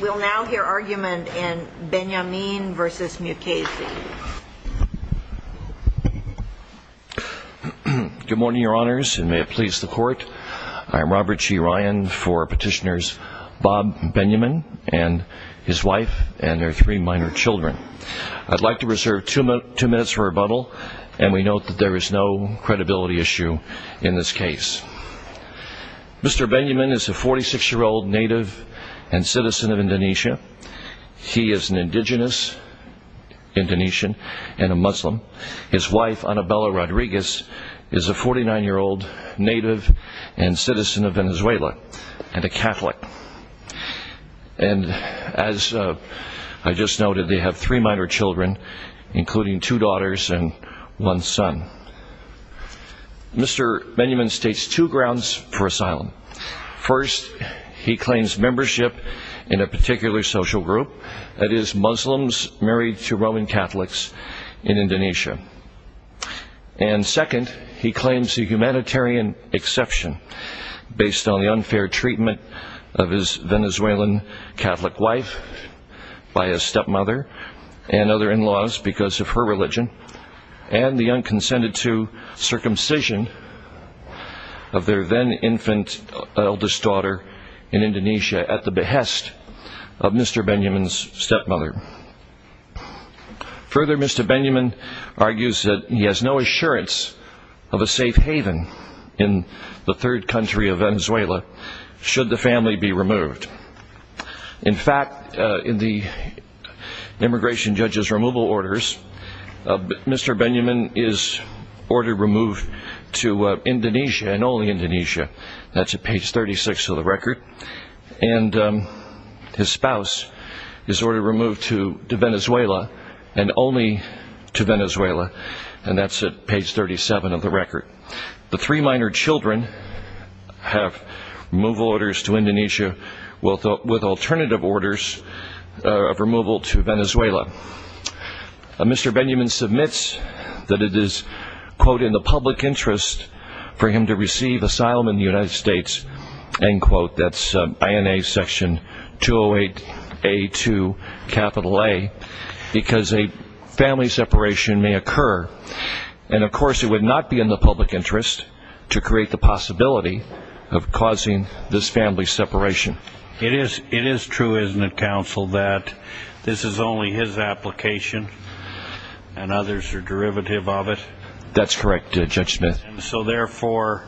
We'll now hear argument in Benyamin v. Mukasey. Good morning, your honors, and may it please the court. I'm Robert G. Ryan for petitioners Bob Benyamin and his wife and their three minor children. I'd like to reserve two minutes for rebuttal, and we note that there is no credibility issue in this case. Mr. Benyamin is a 46-year-old native and citizen of Indonesia. He is an indigenous Indonesian and a Muslim. His wife, Annabella Rodriguez, is a 49-year-old native and citizen of Venezuela and a Catholic. And as I just noted, they have three minor children, including two daughters and one son. Mr. Benyamin states two grounds for asylum. First, he claims membership in a particular social group, that is, Muslims married to Roman Catholics in Indonesia. And second, he claims a humanitarian exception based on the unfair treatment of his Venezuelan Catholic wife by his stepmother and other in-laws because of her religion and the unconsented-to circumcision of their then-infant eldest daughter in Indonesia at the behest of Mr. Benyamin's stepmother. Further, Mr. Benyamin argues that he has no assurance of a safe haven in the third country of Venezuela should the family be removed. In fact, in the immigration judge's removal orders, Mr. Benyamin is ordered removed to Indonesia and only Indonesia. That's at page 36 of the record. And his spouse is ordered removed to Venezuela and only to Venezuela, and that's at page 37 of the record. The three minor children have removal orders to Indonesia with alternative orders of removal to Venezuela. Mr. Benyamin submits that it is, quote, in the public interest for him to receive asylum in the United States, end quote. That's INA section 208A2, capital A, because a family separation may occur. And, of course, it would not be in the public interest to create the possibility of causing this family separation. It is true, isn't it, counsel, that this is only his application and others are derivative of it? That's correct, Judge Smith. So, therefore,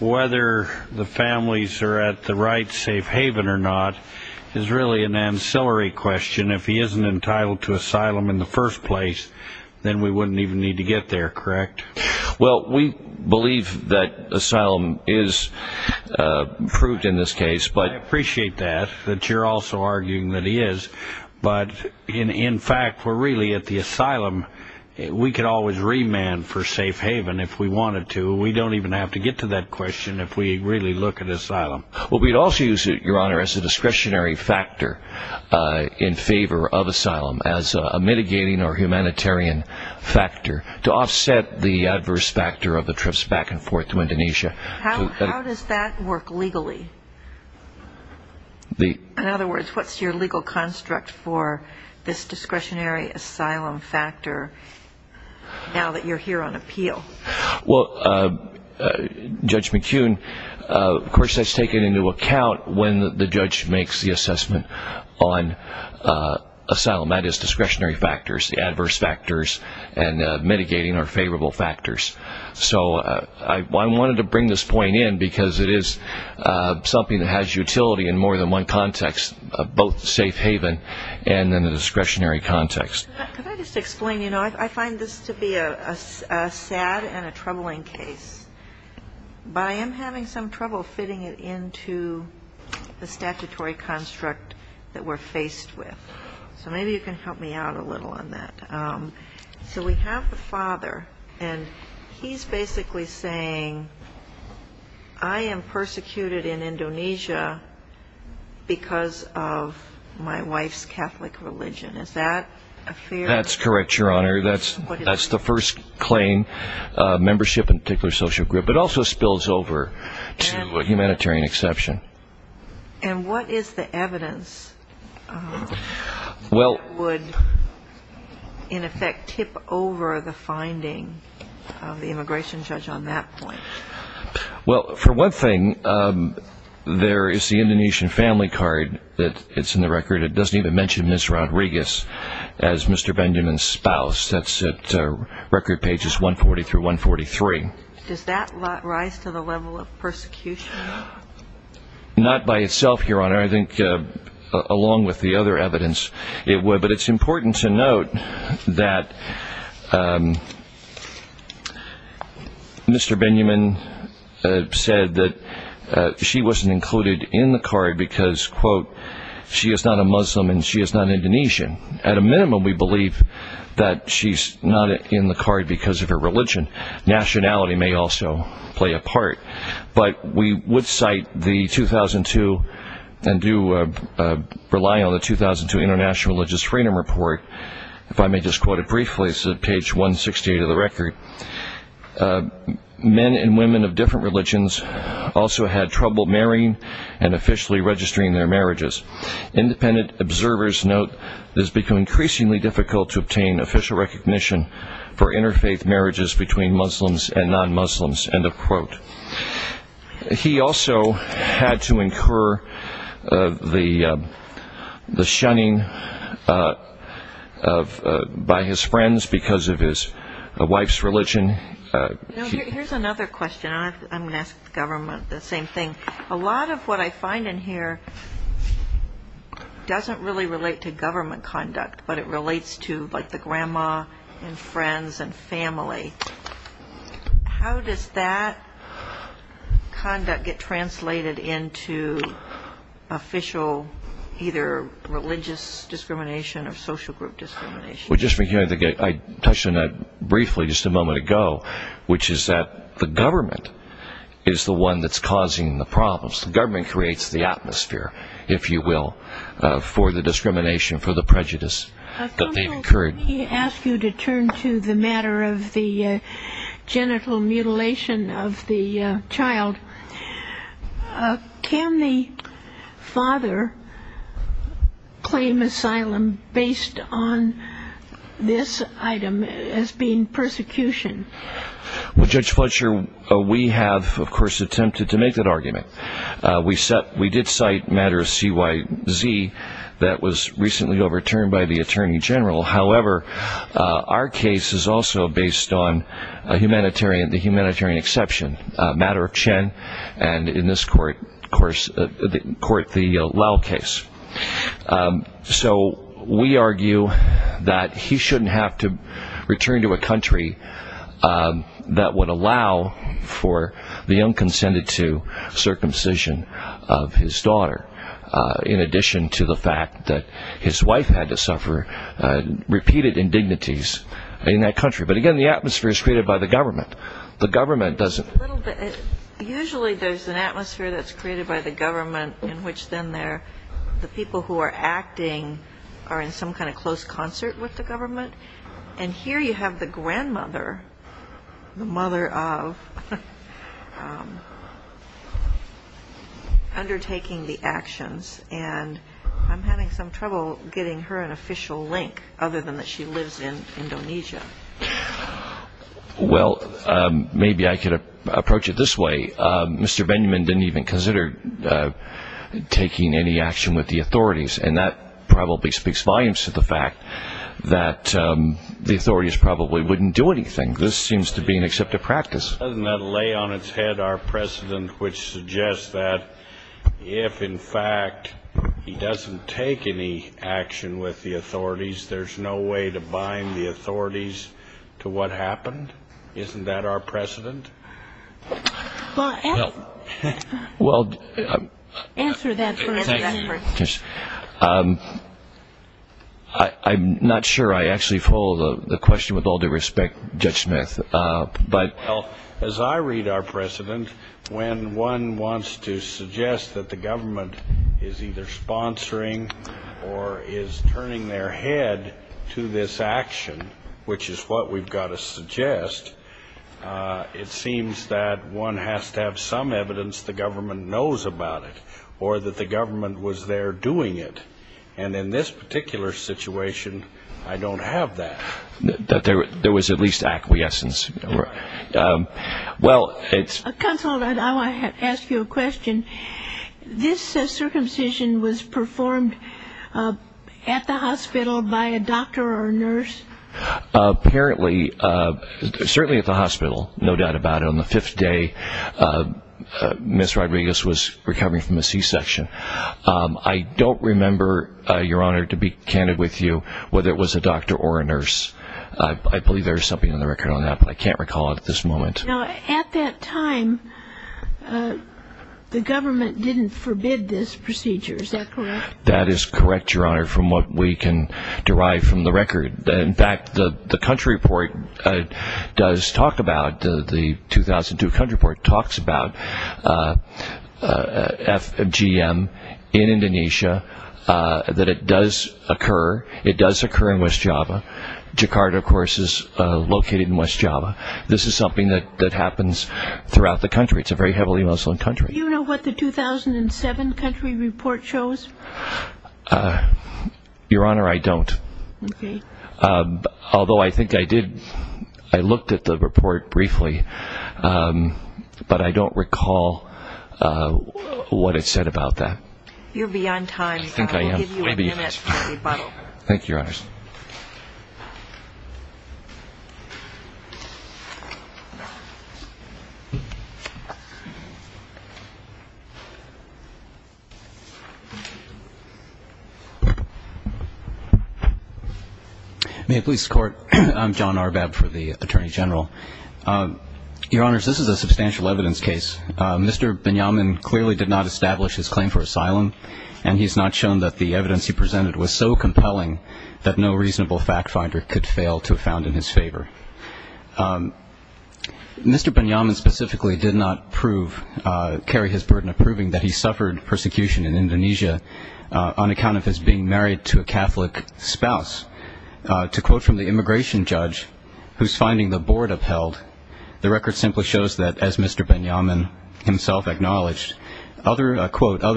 whether the families are at the right safe haven or not is really an ancillary question. If he isn't entitled to asylum in the first place, then we wouldn't even need to get there, correct? Well, we believe that asylum is fruit in this case. I appreciate that, that you're also arguing that he is. But, in fact, we're really at the asylum. We could always remand for safe haven if we wanted to. We don't even have to get to that question if we really look at asylum. Well, we'd also use it, Your Honor, as a discretionary factor in favor of asylum as a mitigating or humanitarian factor to offset the adverse factor of the trips back and forth to Indonesia. How does that work legally? In other words, what's your legal construct for this discretionary asylum factor now that you're here on appeal? Well, Judge McKeown, of course, that's taken into account when the judge makes the assessment on asylum. That is discretionary factors, the adverse factors, and mitigating or favorable factors. So I wanted to bring this point in because it is something that has utility in more than one context, both safe haven and in the discretionary context. Could I just explain? You know, I find this to be a sad and a troubling case, but I am having some trouble fitting it into the statutory construct that we're faced with. So maybe you can help me out a little on that. So we have the father, and he's basically saying, I am persecuted in Indonesia because of my wife's Catholic religion. Is that a fair? That's correct, Your Honor. That's the first claim, membership in a particular social group. It also spills over to a humanitarian exception. And what is the evidence that would, in effect, tip over the finding of the immigration judge on that point? Well, for one thing, there is the Indonesian family card that's in the record. It doesn't even mention Ms. Rodriguez as Mr. Benjamin's spouse. That's at record pages 140 through 143. Does that rise to the level of persecution? Not by itself, Your Honor. I think along with the other evidence it would. But it's important to note that Mr. Benjamin said that she wasn't included in the card because, quote, she is not a Muslim and she is not Indonesian. At a minimum, we believe that she's not in the card because of her religion, but nationality may also play a part. But we would cite the 2002 and do rely on the 2002 International Religious Freedom Report. If I may just quote it briefly, it's at page 168 of the record. Men and women of different religions also had trouble marrying and officially registering their marriages. Independent observers note it has become increasingly difficult to obtain official recognition for interfaith marriages between Muslims and non-Muslims, end of quote. He also had to incur the shunning by his friends because of his wife's religion. Here's another question. I'm going to ask the government the same thing. A lot of what I find in here doesn't really relate to government conduct, but it relates to, like, the grandma and friends and family. How does that conduct get translated into official either religious discrimination or social group discrimination? Well, just for you, I think I touched on that briefly just a moment ago, which is that the government is the one that's causing the problems. The government creates the atmosphere, if you will, for the discrimination, for the prejudice that they've incurred. If I may, let me ask you to turn to the matter of the genital mutilation of the child. Can the father claim asylum based on this item as being persecution? Well, Judge Fletcher, we have, of course, attempted to make that argument. We did cite a matter of CYZ that was recently overturned by the attorney general. However, our case is also based on the humanitarian exception, a matter of Chen, and in this court, of course, the Lao case. So we argue that he shouldn't have to return to a country that would allow for the unconsented to circumcision of his daughter, in addition to the fact that his wife had to suffer repeated indignities in that country. But, again, the atmosphere is created by the government. The government doesn't. Usually there's an atmosphere that's created by the government in which then the people who are acting are in some kind of close concert with the government. And here you have the grandmother, the mother of, undertaking the actions. And I'm having some trouble getting her an official link, other than that she lives in Indonesia. Well, maybe I could approach it this way. Mr. Benjamin didn't even consider taking any action with the authorities, and that probably speaks volumes to the fact that the authorities probably wouldn't do anything. This seems to be an exceptive practice. Doesn't that lay on its head our precedent, which suggests that if, in fact, he doesn't take any action with the authorities, there's no way to bind the authorities to what happened? Isn't that our precedent? Well, answer that for us. I'm not sure I actually follow the question with all due respect, Judge Smith. Well, as I read our precedent, when one wants to suggest that the government is either sponsoring or is turning their head to this action, which is what we've got to suggest, it seems that one has to have some evidence the government knows about it or that the government was there doing it. And in this particular situation, I don't have that. That there was at least acquiescence. Counsel, I want to ask you a question. This circumcision was performed at the hospital by a doctor or a nurse? Apparently, certainly at the hospital, no doubt about it. On the fifth day, Ms. Rodriguez was recovering from a C-section. I don't remember, Your Honor, to be candid with you whether it was a doctor or a nurse. I believe there is something in the record on that, but I can't recall it at this moment. Now, at that time, the government didn't forbid this procedure, is that correct? That is correct, Your Honor, from what we can derive from the record. In fact, the country report does talk about, the 2002 country report, talks about FGM in Indonesia, that it does occur. It does occur in West Java. Jakarta, of course, is located in West Java. This is something that happens throughout the country. It's a very heavily Muslim country. Do you know what the 2007 country report shows? Your Honor, I don't. Okay. Although I think I did, I looked at the report briefly, but I don't recall what it said about that. You're beyond time. I think I am. We'll give you a minute for rebuttal. Thank you, Your Honors. May it please the Court. I'm John Arbab for the Attorney General. Your Honors, this is a substantial evidence case. Mr. Binyamin clearly did not establish his claim for asylum, and he's not shown that the evidence he presented was so compelling that no reasonable fact finder could fail to have found in his favor. Mr. Binyamin specifically did not prove, carry his burden of proving that he suffered persecution in Indonesia on account of his being married to a Catholic spouse. To quote from the immigration judge who's finding the board upheld, the record simply shows that, as Mr. Binyamin himself acknowledged, other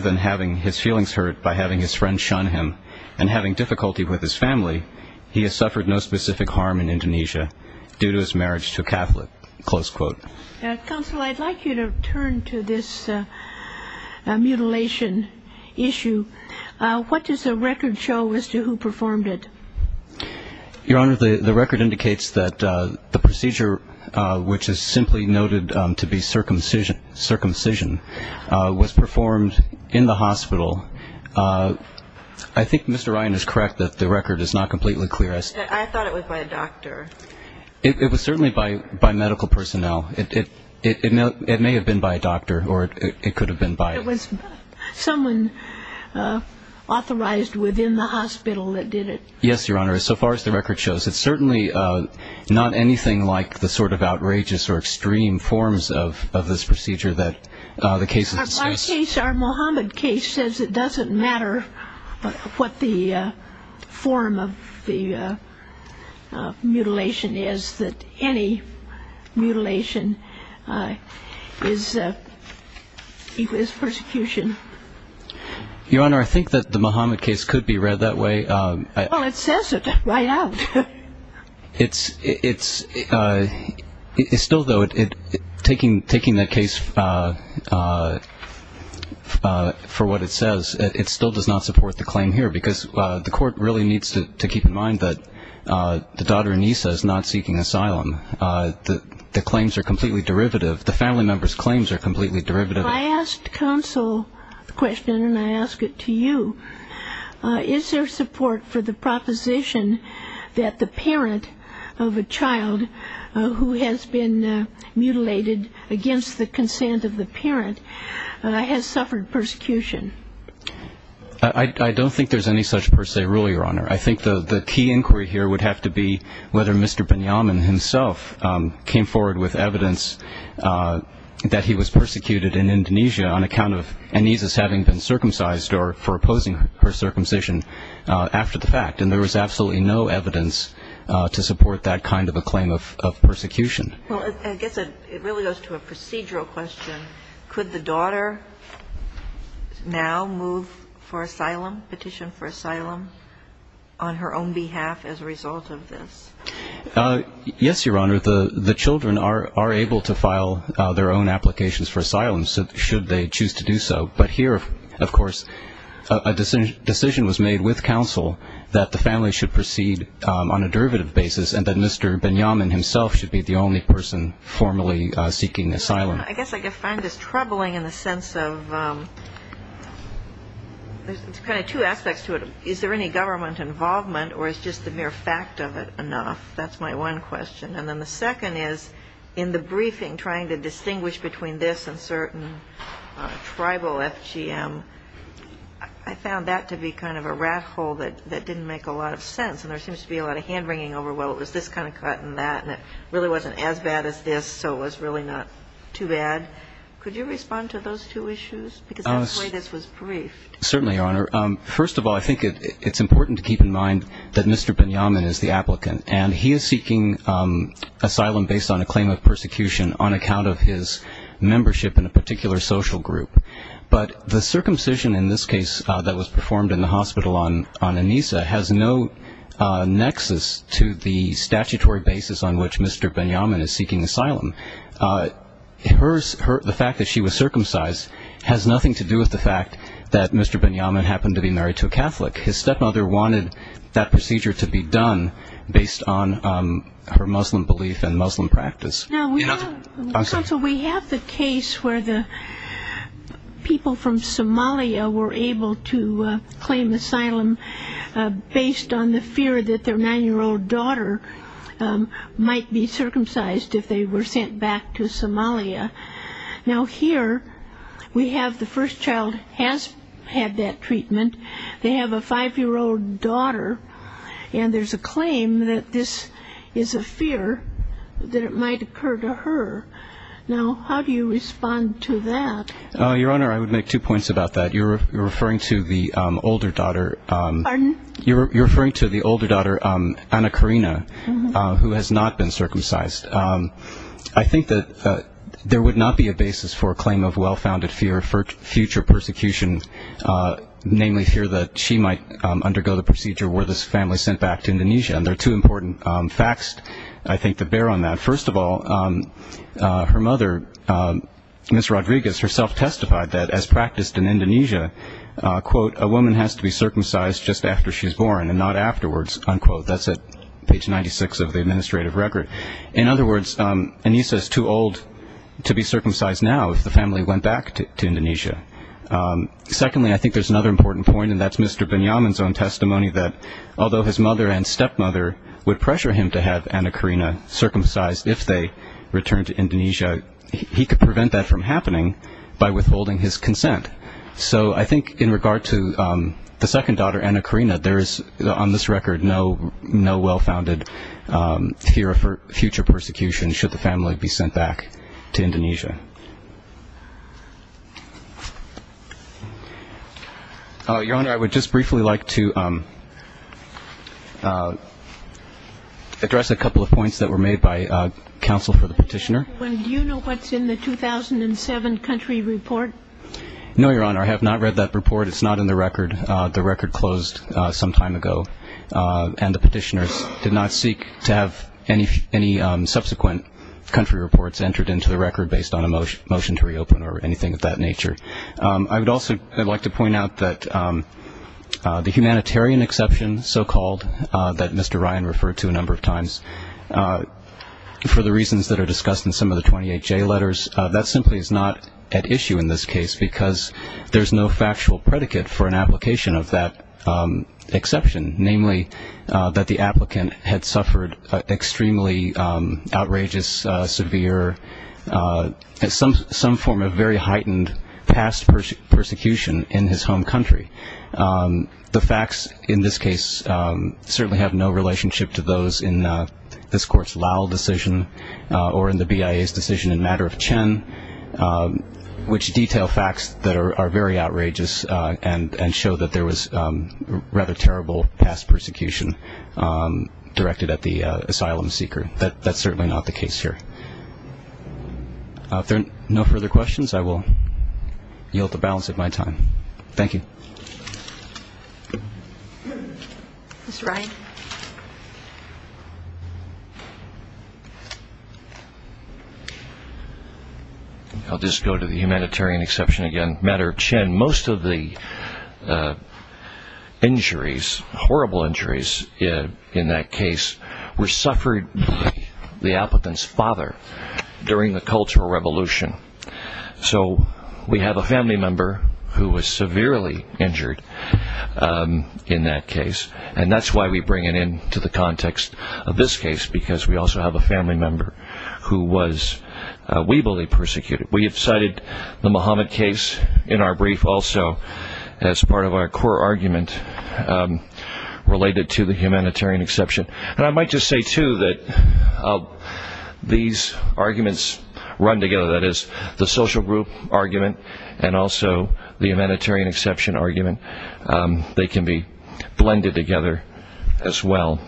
than having his feelings hurt by having his friend shun him and having difficulty with his family, he has suffered no specific harm in Indonesia due to his marriage to a Catholic. Close quote. Counsel, I'd like you to turn to this mutilation issue. What does the record show as to who performed it? Your Honor, the record indicates that the procedure, which is simply noted to be circumcision, was performed in the hospital. I think Mr. Ryan is correct that the record is not completely clear. I thought it was by a doctor. It was certainly by medical personnel. It may have been by a doctor or it could have been by a doctor. It was someone authorized within the hospital that did it. Yes, Your Honor. So far as the record shows, it's certainly not anything like the sort of outrageous or extreme forms of this procedure that the case has discussed. In my case, our Mohammed case says it doesn't matter what the form of the mutilation is, that any mutilation is persecution. Your Honor, I think that the Mohammed case could be read that way. Well, it says it right out. It's still, though, taking the case for what it says, it still does not support the claim here, because the court really needs to keep in mind that the daughter Anissa is not seeking asylum. The claims are completely derivative. The family member's claims are completely derivative. I asked counsel the question and I ask it to you. Is there support for the proposition that the parent of a child who has been mutilated against the consent of the parent has suffered persecution? I don't think there's any such per se rule, Your Honor. I think the key inquiry here would have to be whether Mr. Benyamin himself came forward with evidence that he was persecuted in Indonesia on account of Anissa's having been circumcised or for opposing her circumcision after the fact. And there was absolutely no evidence to support that kind of a claim of persecution. Well, I guess it really goes to a procedural question. Could the daughter now move for asylum, petition for asylum on her own behalf as a result of this? Yes, Your Honor. The children are able to file their own applications for asylum should they choose to do so. But here, of course, a decision was made with counsel that the family should proceed on a derivative basis and that Mr. Benyamin himself should be the only person formally seeking asylum. I guess I find this troubling in the sense of there's kind of two aspects to it. Is there any government involvement or is just the mere fact of it enough? That's my one question. And then the second is in the briefing trying to distinguish between this and certain tribal FGM, I found that to be kind of a rat hole that didn't make a lot of sense. And there seems to be a lot of hand-wringing over, well, it was this kind of cut and that, and it really wasn't as bad as this, so it was really not too bad. Could you respond to those two issues? Certainly, Your Honor. First of all, I think it's important to keep in mind that Mr. Benyamin is the applicant, and he is seeking asylum based on a claim of persecution on account of his membership in a particular social group. But the circumcision in this case that was performed in the hospital on Anissa has no nexus to the statutory basis on which Mr. Benyamin is seeking asylum. The fact that she was circumcised has nothing to do with the fact that Mr. Benyamin happened to be married to a Catholic. His stepmother wanted that procedure to be done based on her Muslim belief and Muslim practice. Now, we have the case where the people from Somalia were able to claim asylum based on the fear that their 9-year-old daughter might be circumcised if they were sent back to Somalia. Now, here we have the first child has had that treatment. They have a 5-year-old daughter, and there's a claim that this is a fear that it might occur to her. Now, how do you respond to that? Your Honor, I would make two points about that. You're referring to the older daughter. Pardon? You're referring to the older daughter, Anna Karina, who has not been circumcised. I think that there would not be a basis for a claim of well-founded fear for future persecution, namely fear that she might undergo the procedure were this family sent back to Indonesia. And there are two important facts, I think, that bear on that. First of all, her mother, Ms. Rodriguez, herself testified that as practiced in Indonesia, quote, a woman has to be circumcised just after she's born and not afterwards, unquote. That's at page 96 of the administrative record. In other words, Anissa is too old to be circumcised now if the family went back to Indonesia. Secondly, I think there's another important point, and that's Mr. Benyamin's own testimony, that although his mother and stepmother would pressure him to have Anna Karina circumcised if they returned to Indonesia, he could prevent that from happening by withholding his consent. So I think in regard to the second daughter, Anna Karina, there is, on this record, no well-founded fear for future persecution should the family be sent back to Indonesia. Your Honor, I would just briefly like to address a couple of points that were made by counsel for the petitioner. Do you know what's in the 2007 country report? No, Your Honor. I have not read that report. It's not in the record. The record closed some time ago, and the petitioners did not seek to have any subsequent country reports entered into the record based on a motion to reopen or anything of that nature. I would also like to point out that the humanitarian exception, so-called, that Mr. Ryan referred to a number of times, for the reasons that are discussed in some of the 28J letters, that simply is not at issue in this case because there's no factual predicate for an application of that exception, namely that the applicant had suffered extremely outrageous, severe, some form of very heightened past persecution in his home country. The facts in this case certainly have no relationship to those in this Court's Lau decision or in the BIA's decision in Matter of Chen, which detail facts that are very outrageous and show that there was rather terrible past persecution directed at the asylum seeker. That's certainly not the case here. If there are no further questions, I will yield the balance of my time. Thank you. Mr. Ryan. I'll just go to the humanitarian exception again. In Matter of Chen, most of the injuries, horrible injuries in that case, were suffered by the applicant's father during the Cultural Revolution. So we have a family member who was severely injured in that case, and that's why we bring it into the context of this case because we also have a family member who was, we believe, persecuted. We have cited the Mohammed case in our brief also as part of our core argument related to the humanitarian exception. And I might just say, too, that these arguments run together. That is, the social group argument and also the humanitarian exception argument, they can be blended together as well.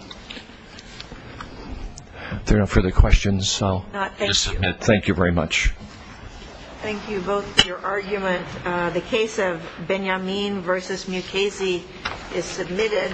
If there are no further questions, I'll just submit. Thank you very much. Thank you both for your argument. The case of Benyamin v. Mukasey is submitted.